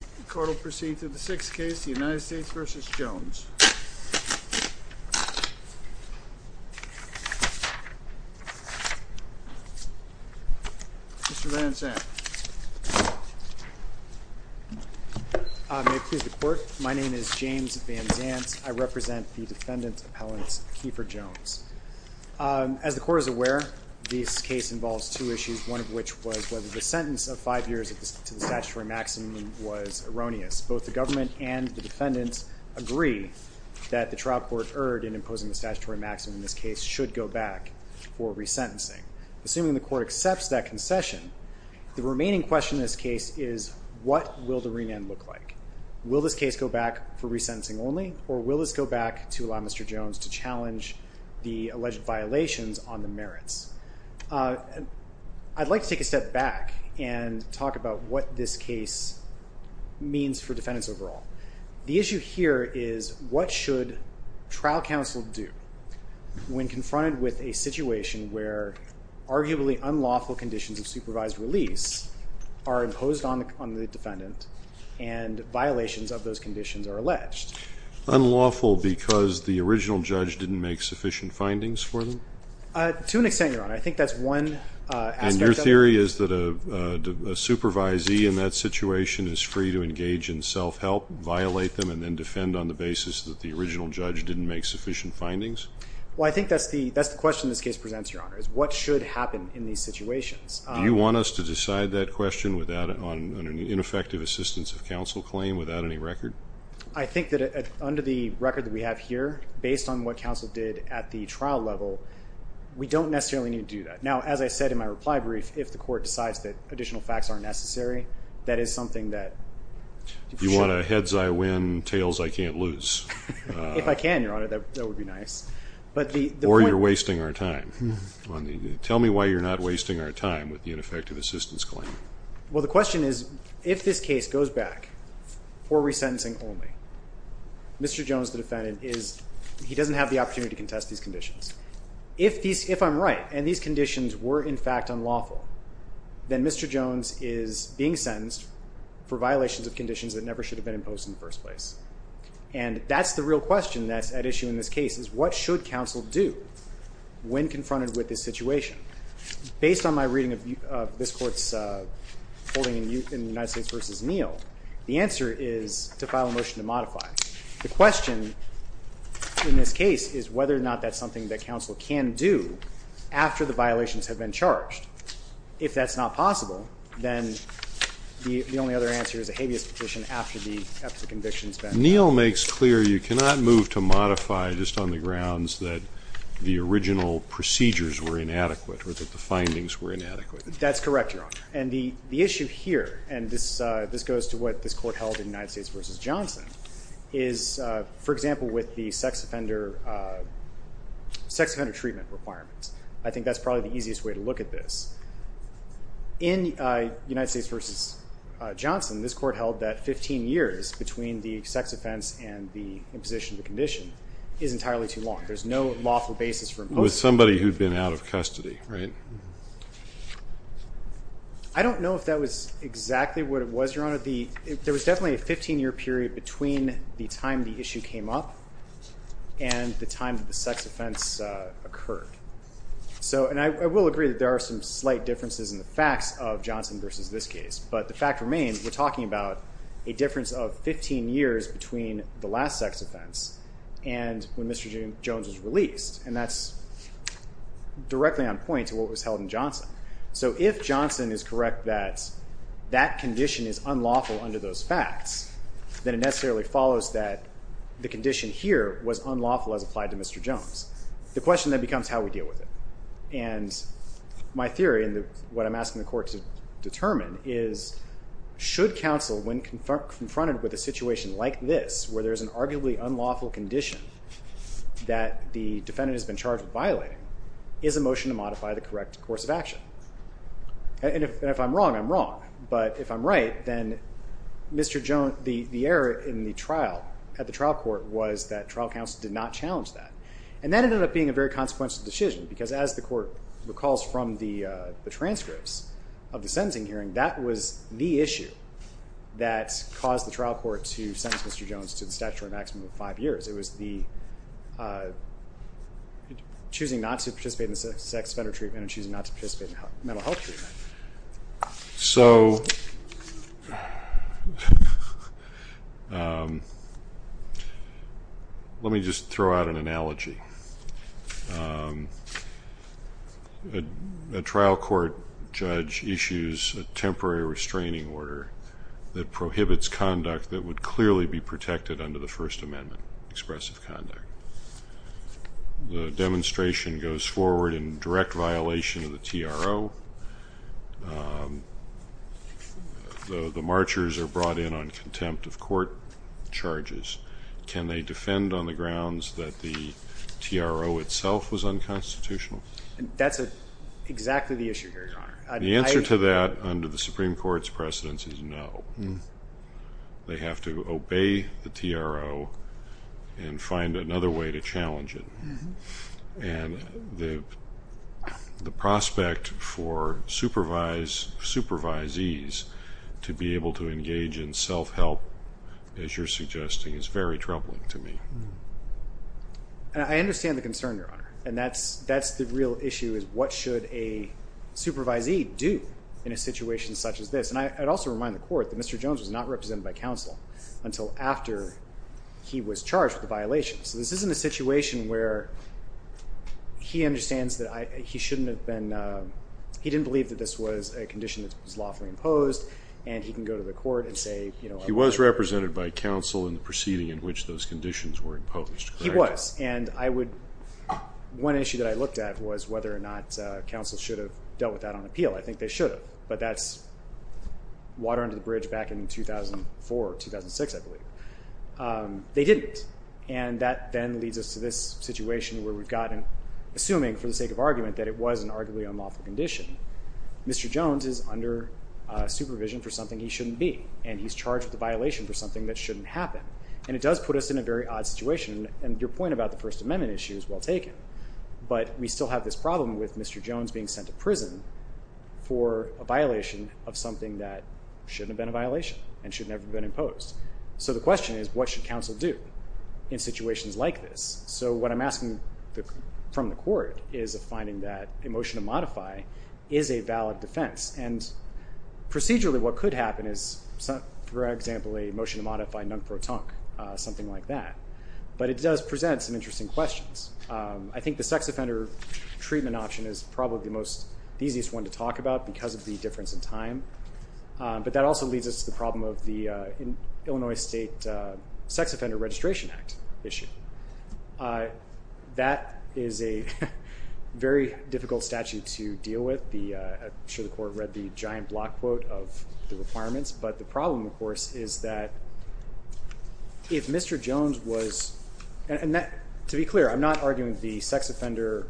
The court will proceed to the sixth case, the United States v. Jones. Mr. Van Zandt. May it please the court, my name is James Van Zandt. I represent the defendant's appellant, Keefer Jones. As the court is aware, this case involves two issues, one of which was whether the sentence of five years to the statutory maximum was erroneous. Both the government and the defendants agree that the trial court erred in imposing the statutory maximum, and this case should go back for resentencing. Assuming the court accepts that concession, the remaining question in this case is, what will the remand look like? Will this case go back for resentencing only, or will this go back to allow Mr. Jones to challenge the alleged violations on the merits? I'd like to take a step back and talk about what this case means for defendants overall. The issue here is, what should trial counsel do when confronted with a situation where arguably unlawful conditions of supervised release are imposed on the defendant and violations of those conditions are alleged? Unlawful because the original judge didn't make sufficient findings for them? To an extent, Your Honor. I think that's one aspect of it. And your theory is that a supervisee in that situation is free to engage in self-help, violate them, and then defend on the basis that the original judge didn't make sufficient findings? Well, I think that's the question this case presents, Your Honor, is what should happen in these situations. Do you want us to decide that question on an ineffective assistance of counsel claim without any record? I think that under the record that we have here, based on what counsel did at the trial level, we don't necessarily need to do that. Now, as I said in my reply brief, if the court decides that additional facts aren't necessary, that is something that... You want a heads I win, tails I can't lose? If I can, Your Honor, that would be nice. Or you're wasting our time. Tell me why you're not wasting our time with the ineffective assistance claim. Well, the question is, if this case goes back for resentencing only, Mr. Jones, the defendant, he doesn't have the opportunity to contest these conditions. If I'm right and these conditions were, in fact, unlawful, then Mr. Jones is being sentenced for violations of conditions that never should have been imposed in the first place. And that's the real question that's at issue in this case is what should counsel do when confronted with this situation? Based on my reading of this court's holding in the United States v. Neal, the answer is to file a motion to modify. The question in this case is whether or not that's something that counsel can do after the violations have been charged. If that's not possible, then the only other answer is a habeas petition after the conviction has been... Neal makes clear you cannot move to modify just on the grounds that the original procedures were inadequate or that the findings were inadequate. That's correct, Your Honor. And the issue here, and this goes to what this court held in United States v. Johnson, is, for example, with the sex offender treatment requirements. I think that's probably the easiest way to look at this. In United States v. Johnson, this court held that 15 years between the sex offense and the imposition of the condition is entirely too long. There's no lawful basis for imposing... It was somebody who'd been out of custody, right? I don't know if that was exactly what it was, Your Honor. There was definitely a 15-year period between the time the issue came up and the time that the sex offense occurred. And I will agree that there are some slight differences in the facts of Johnson v. this case. But the fact remains, we're talking about a difference of 15 years between the last sex offense and when Mr. Jones was released. And that's directly on point to what was held in Johnson. So if Johnson is correct that that condition is unlawful under those facts, then it necessarily follows that the condition here was unlawful as applied to Mr. Jones. The question then becomes how we deal with it. And my theory and what I'm asking the court to determine is should counsel, when confronted with a situation like this, where there's an arguably unlawful condition that the defendant has been charged with violating, is a motion to modify the correct course of action. And if I'm wrong, I'm wrong. But if I'm right, then Mr. Jones... The error in the trial at the trial court was that trial counsel did not challenge that. And that ended up being a very consequential decision because as the court recalls from the transcripts of the sentencing hearing, that was the issue that caused the trial court to sentence Mr. Jones to the statutory maximum of five years. It was the choosing not to participate in sex offender treatment and choosing not to participate in mental health treatment. So let me just throw out an analogy. A trial court judge issues a temporary restraining order that prohibits conduct that would clearly be protected under the First Amendment, expressive conduct. The demonstration goes forward in direct violation of the TRO. The marchers are brought in on contempt of court charges. Can they defend on the grounds that the TRO itself was unconstitutional? That's exactly the issue here, Your Honor. The answer to that under the Supreme Court's precedence is no. They have to obey the TRO and find another way to challenge it. And the prospect for supervisees to be able to engage in self-help, as you're suggesting, is very troubling to me. I understand the concern, Your Honor. And that's the real issue is what should a supervisee do in a situation such as this? And I'd also remind the court that Mr. Jones was not represented by counsel until after he was charged with a violation. So this isn't a situation where he understands that he shouldn't have been – he didn't believe that this was a condition that was lawfully imposed and he can go to the court and say – He was represented by counsel in the proceeding in which those conditions were imposed, correct? He was. And I would – one issue that I looked at was whether or not counsel should have dealt with that on appeal. I think they should have. But that's water under the bridge back in 2004, 2006, I believe. They didn't. And that then leads us to this situation where we've gotten – assuming for the sake of argument that it was an arguably unlawful condition, Mr. Jones is under supervision for something he shouldn't be. And he's charged with a violation for something that shouldn't happen. And it does put us in a very odd situation. And your point about the First Amendment issue is well taken. But we still have this problem with Mr. Jones being sent to prison for a violation of something that shouldn't have been a violation and should never have been imposed. So the question is what should counsel do in situations like this? So what I'm asking from the court is a finding that a motion to modify is a valid defense. And procedurally what could happen is, for example, a motion to modify nunc pro tonc, something like that. But it does present some interesting questions. I think the sex offender treatment option is probably the easiest one to talk about because of the difference in time. But that also leads us to the problem of the Illinois State Sex Offender Registration Act issue. That is a very difficult statute to deal with. I'm sure the court read the giant block quote of the requirements. But the problem, of course, is that if Mr. Jones was – and to be clear, I'm not arguing the sex offender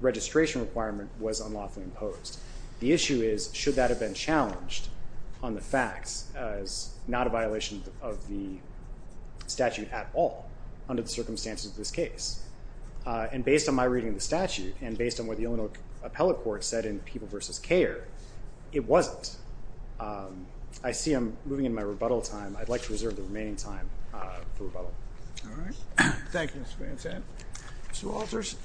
registration requirement was unlawfully imposed. The issue is should that have been challenged on the facts as not a violation of the statute at all under the circumstances of this case? And based on my reading of the statute and based on what the Illinois Appellate Court said in People vs. Care, it wasn't. I see I'm moving into my rebuttal time. I'd like to reserve the remaining time for rebuttal. All right. Thank you, Mr. Van Sant. Mr. Walters.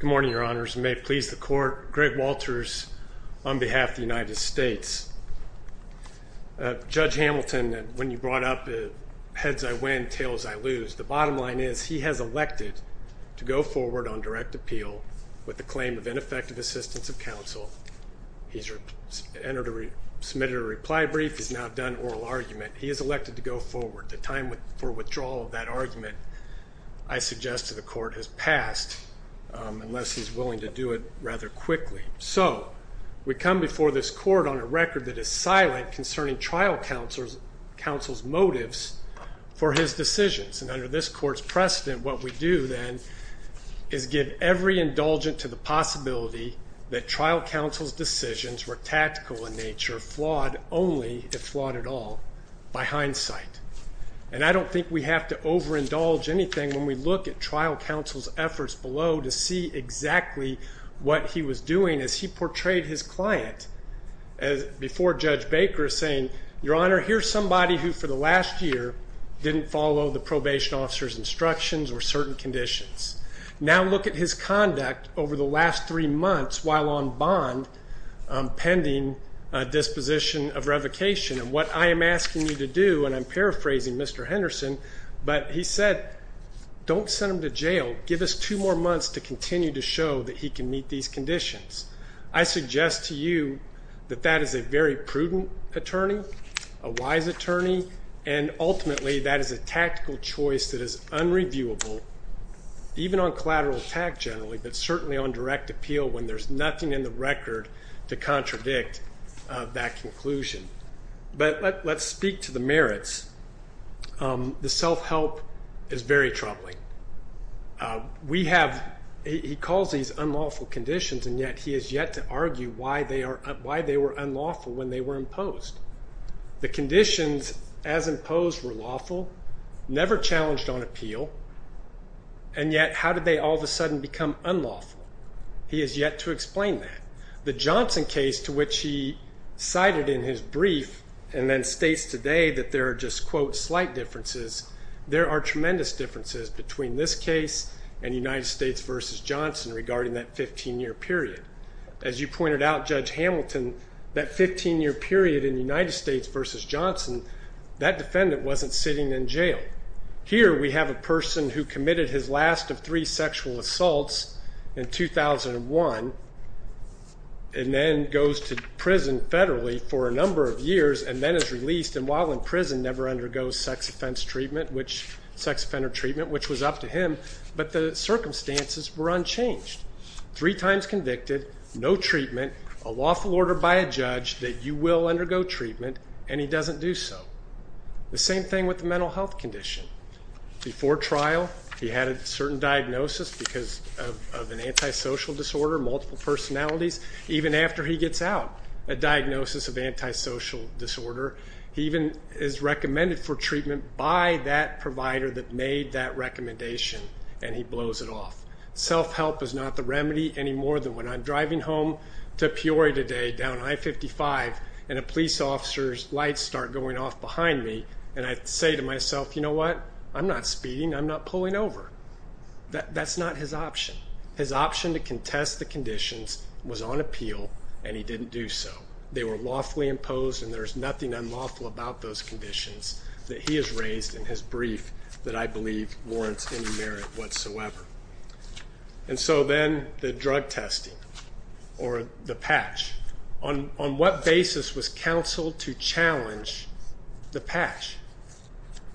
Good morning, Your Honors. May it please the court, Greg Walters on behalf of the United States. Judge Hamilton, when you brought up heads I win, tails I lose. The bottom line is he has elected to go forward on direct appeal with the claim of ineffective assistance of counsel. He's submitted a reply brief. He's now done oral argument. He has elected to go forward. The time for withdrawal of that argument, I suggest to the court, has passed unless he's willing to do it rather quickly. So we come before this court on a record that is silent concerning trial counsel's motives for his decisions. And under this court's precedent, what we do then is give every indulgent to the possibility that trial counsel's decisions were tactical in nature, flawed only if flawed at all by hindsight. And I don't think we have to overindulge anything when we look at trial counsel's efforts below to see exactly what he was doing as he portrayed his client before Judge Baker saying, Your Honor, here's somebody who for the last year didn't follow the probation officer's instructions or certain conditions. Now look at his conduct over the last three months while on bond pending disposition of revocation. And what I am asking you to do, and I'm paraphrasing Mr. Henderson, but he said, Don't send him to jail. Give us two more months to continue to show that he can meet these conditions. I suggest to you that that is a very prudent attorney, a wise attorney, and ultimately that is a tactical choice that is unreviewable, even on collateral attack generally, but certainly on direct appeal when there's nothing in the record to contradict that conclusion. But let's speak to the merits. The self-help is very troubling. He calls these unlawful conditions, and yet he has yet to argue why they were unlawful when they were imposed. The conditions as imposed were lawful, never challenged on appeal, and yet how did they all of a sudden become unlawful? He has yet to explain that. The Johnson case, to which he cited in his brief and then states today that there are just, quote, slight differences, there are tremendous differences between this case and United States v. Johnson regarding that 15-year period. As you pointed out, Judge Hamilton, that 15-year period in United States v. Johnson, that defendant wasn't sitting in jail. Here we have a person who committed his last of three sexual assaults in 2001 and then goes to prison federally for a number of years and then is released and while in prison never undergoes sex offender treatment, which was up to him, but the circumstances were unchanged. Three times convicted, no treatment, a lawful order by a judge that you will undergo treatment, and he doesn't do so. The same thing with the mental health condition. Before trial, he had a certain diagnosis because of an antisocial disorder, multiple personalities. Even after he gets out, a diagnosis of antisocial disorder, he even is recommended for treatment by that provider that made that recommendation, and he blows it off. Self-help is not the remedy any more than when I'm driving home to Peoria today down I-55 and a police officer's lights start going off behind me and I say to myself, you know what? I'm not speeding, I'm not pulling over. That's not his option. His option to contest the conditions was on appeal and he didn't do so. They were lawfully imposed and there's nothing unlawful about those conditions that he has raised in his brief that I believe warrants any merit whatsoever. And so then the drug testing or the patch. On what basis was counsel to challenge the patch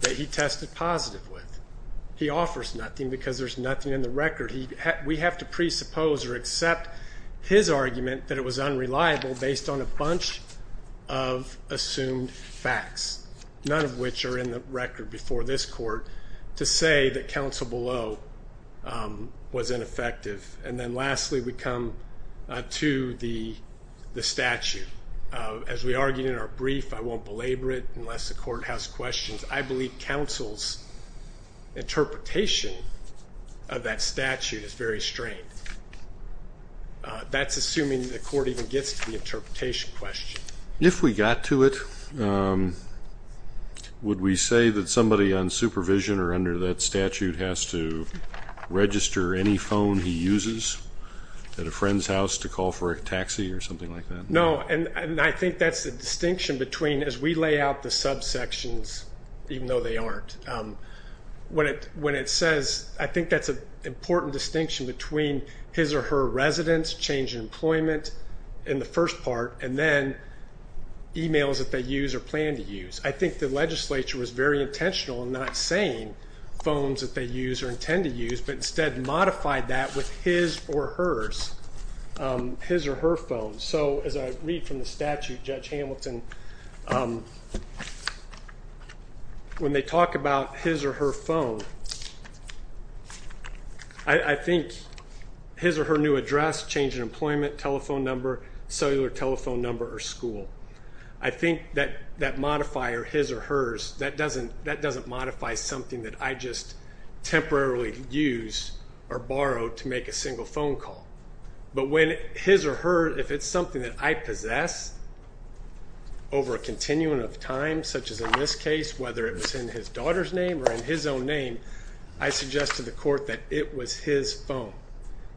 that he tested positive with? He offers nothing because there's nothing in the record. We have to presuppose or accept his argument that it was unreliable based on a bunch of assumed facts, none of which are in the record before this court, to say that counsel below was ineffective. And then lastly, we come to the statute. As we argued in our brief, I won't belabor it unless the court has questions. I believe counsel's interpretation of that statute is very strange. That's assuming the court even gets to the interpretation question. If we got to it, would we say that somebody on supervision or under that statute has to register any phone he uses at a friend's house to call for a taxi or something like that? No, and I think that's the distinction between as we lay out the subsections, even though they aren't, when it says I think that's an important distinction between his or her residence, change in employment in the first part, and then emails that they use or plan to use. I think the legislature was very intentional in not saying phones that they use or intend to use, but instead modified that with his or hers, his or her phone. So as I read from the statute, Judge Hamilton, when they talk about his or her phone, I think his or her new address, change in employment, telephone number, cellular telephone number, or school. I think that modifier, his or hers, that doesn't modify something that I just temporarily use or borrow to make a single phone call. But when his or her, if it's something that I possess over a continuum of time, such as in this case, whether it was in his daughter's name or in his own name, I suggest to the court that it was his phone.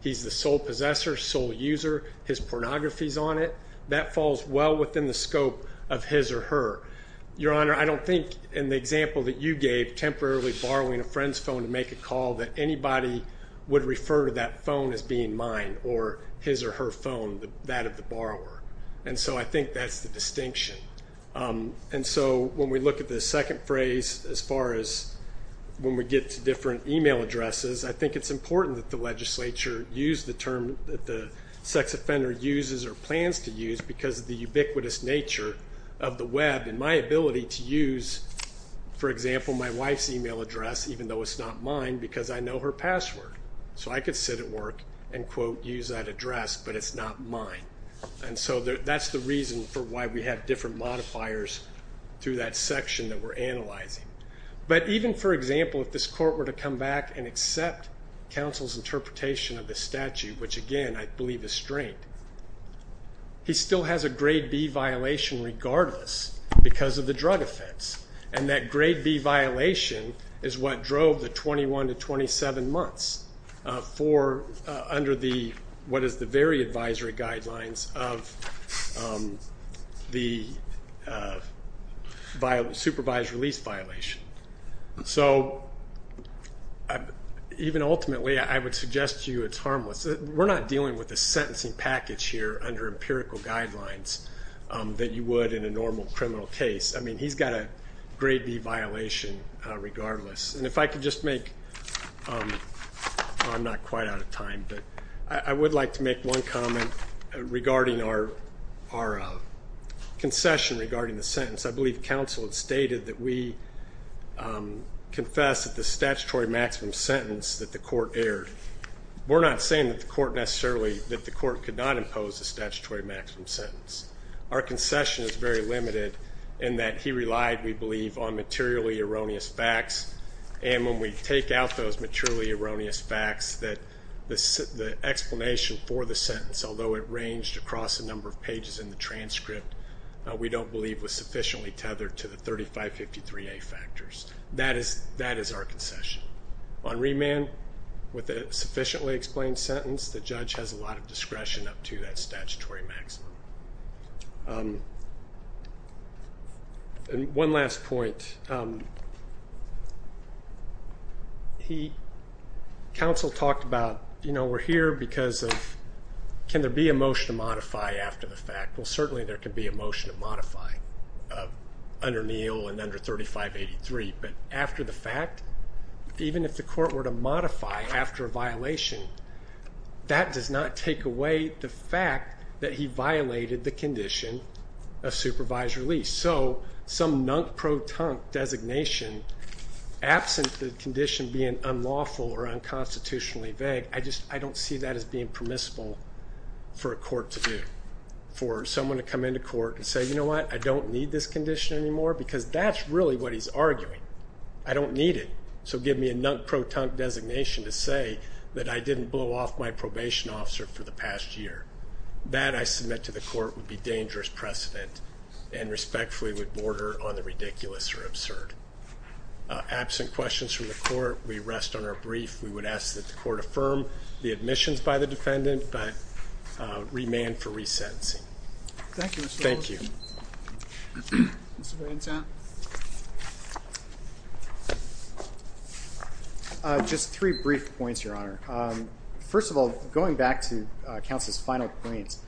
He's the sole possessor, sole user. His pornography's on it. That falls well within the scope of his or her. Your Honor, I don't think in the example that you gave, temporarily borrowing a friend's phone to make a call, that anybody would refer to that phone as being mine or his or her phone, that of the borrower. And so I think that's the distinction. And so when we look at the second phrase, as far as when we get to different email addresses, I think it's important that the legislature use the term that the sex offender uses or plans to use because of the ubiquitous nature of the web and my ability to use, for example, my wife's email address, even though it's not mine, because I know her password. So I could sit at work and, quote, use that address, but it's not mine. And so that's the reason for why we have different modifiers through that section that we're analyzing. But even, for example, if this court were to come back and accept counsel's interpretation of the statute, which, again, I believe is strained, he still has a grade B violation regardless because of the drug offense. And that grade B violation is what drove the 21 to 27 months for, under what is the very advisory guidelines of the supervised release violation. So even ultimately, I would suggest to you it's harmless. We're not dealing with a sentencing package here under empirical guidelines that you would in a normal criminal case. I mean, he's got a grade B violation regardless. And if I could just make, I'm not quite out of time, but I would like to make one comment regarding our concession regarding the sentence. I believe counsel had stated that we confess that the statutory maximum sentence that the court aired. We're not saying that the court necessarily, that the court could not impose a statutory maximum sentence. Our concession is very limited in that he relied, we believe, on materially erroneous facts. And when we take out those materially erroneous facts, that the explanation for the sentence, although it ranged across a number of pages in the transcript, we don't believe was sufficiently tethered to the 3553A factors. That is our concession. On remand, with a sufficiently explained sentence, the judge has a lot of discretion up to that statutory maximum. And one last point. He, counsel talked about, you know, we're here because of, can there be a motion to modify after the fact? Well, certainly there could be a motion to modify under Neal and under 3583. But after the fact, even if the court were to modify after a violation, that does not take away the fact that he violated the condition of supervised release. So some nunk pro tonk designation, absent the condition being unlawful or unconstitutionally vague, I don't see that as being permissible for a court to do, for someone to come into court and say, you know what, I don't need this condition anymore, because that's really what he's arguing. I don't need it. So give me a nunk pro tonk designation to say that I didn't blow off my probation officer for the past year. That, I submit to the court, would be dangerous precedent and respectfully would border on the ridiculous or absurd. Absent questions from the court, we rest on our brief. We would ask that the court affirm the admissions by the defendant, but remand for resentencing. Thank you. Just three brief points, Your Honor. First of all, going back to counsel's final points.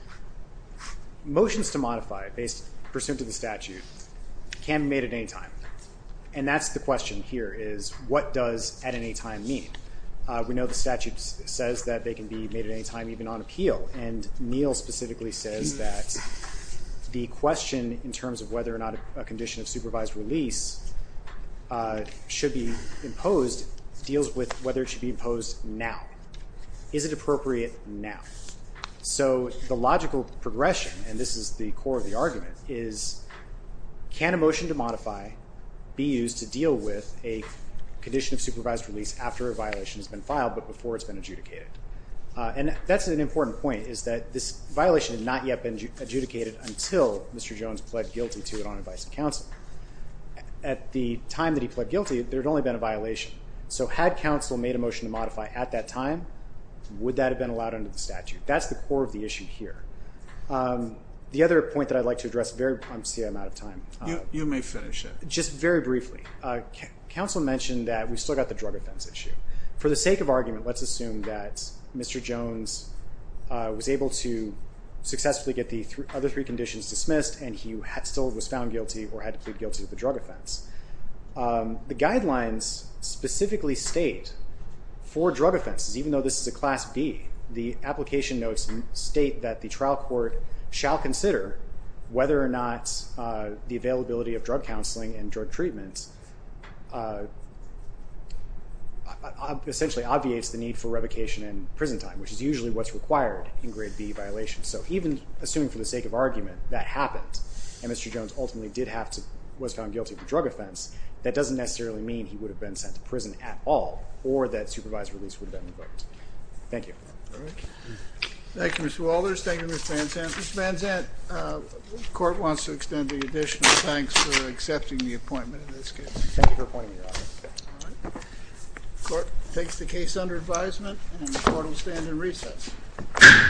Motions to modify based pursuant to the statute can be made at any time. And that's the question here is what does at any time mean? We know the statute says that they can be made at any time, even on appeal. And Neal specifically says that the question in terms of whether or not a condition of supervised release should be imposed, deals with whether it should be imposed now. Is it appropriate now? So the logical progression, and this is the core of the argument, is can a motion to modify be used to deal with a condition of supervised release after a violation has been filed but before it's been adjudicated? And that's an important point, is that this violation had not yet been adjudicated until Mr. Jones pled guilty to it on advice of counsel. At the time that he pled guilty, there had only been a violation. So had counsel made a motion to modify at that time, would that have been allowed under the statute? That's the core of the issue here. The other point that I'd like to address, I'm sorry, I'm out of time. You may finish it. Just very briefly. Counsel mentioned that we still got the drug offense issue. For the sake of argument, let's assume that Mr. Jones was able to successfully get the other three conditions dismissed and he still was found guilty or had pled guilty to the drug offense. The guidelines specifically state for drug offenses, even though this is a Class B, the application notes state that the trial court shall consider whether or not the availability of drug counseling and drug treatment essentially obviates the need for revocation in prison time, which is usually what's required in Grade B violations. So even assuming for the sake of argument that happened and Mr. Jones ultimately was found guilty of the drug offense, that doesn't necessarily mean he would have been sent to prison at all or that supervised release would have been revoked. Thank you. Thank you, Mr. Walters. Thank you, Mr. Van Zandt. Mr. Van Zandt, the court wants to extend the additional thanks for accepting the appointment in this case. Thank you for appointing me, Your Honor. The court takes the case under advisement and the court will stand in recess. Thank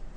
you.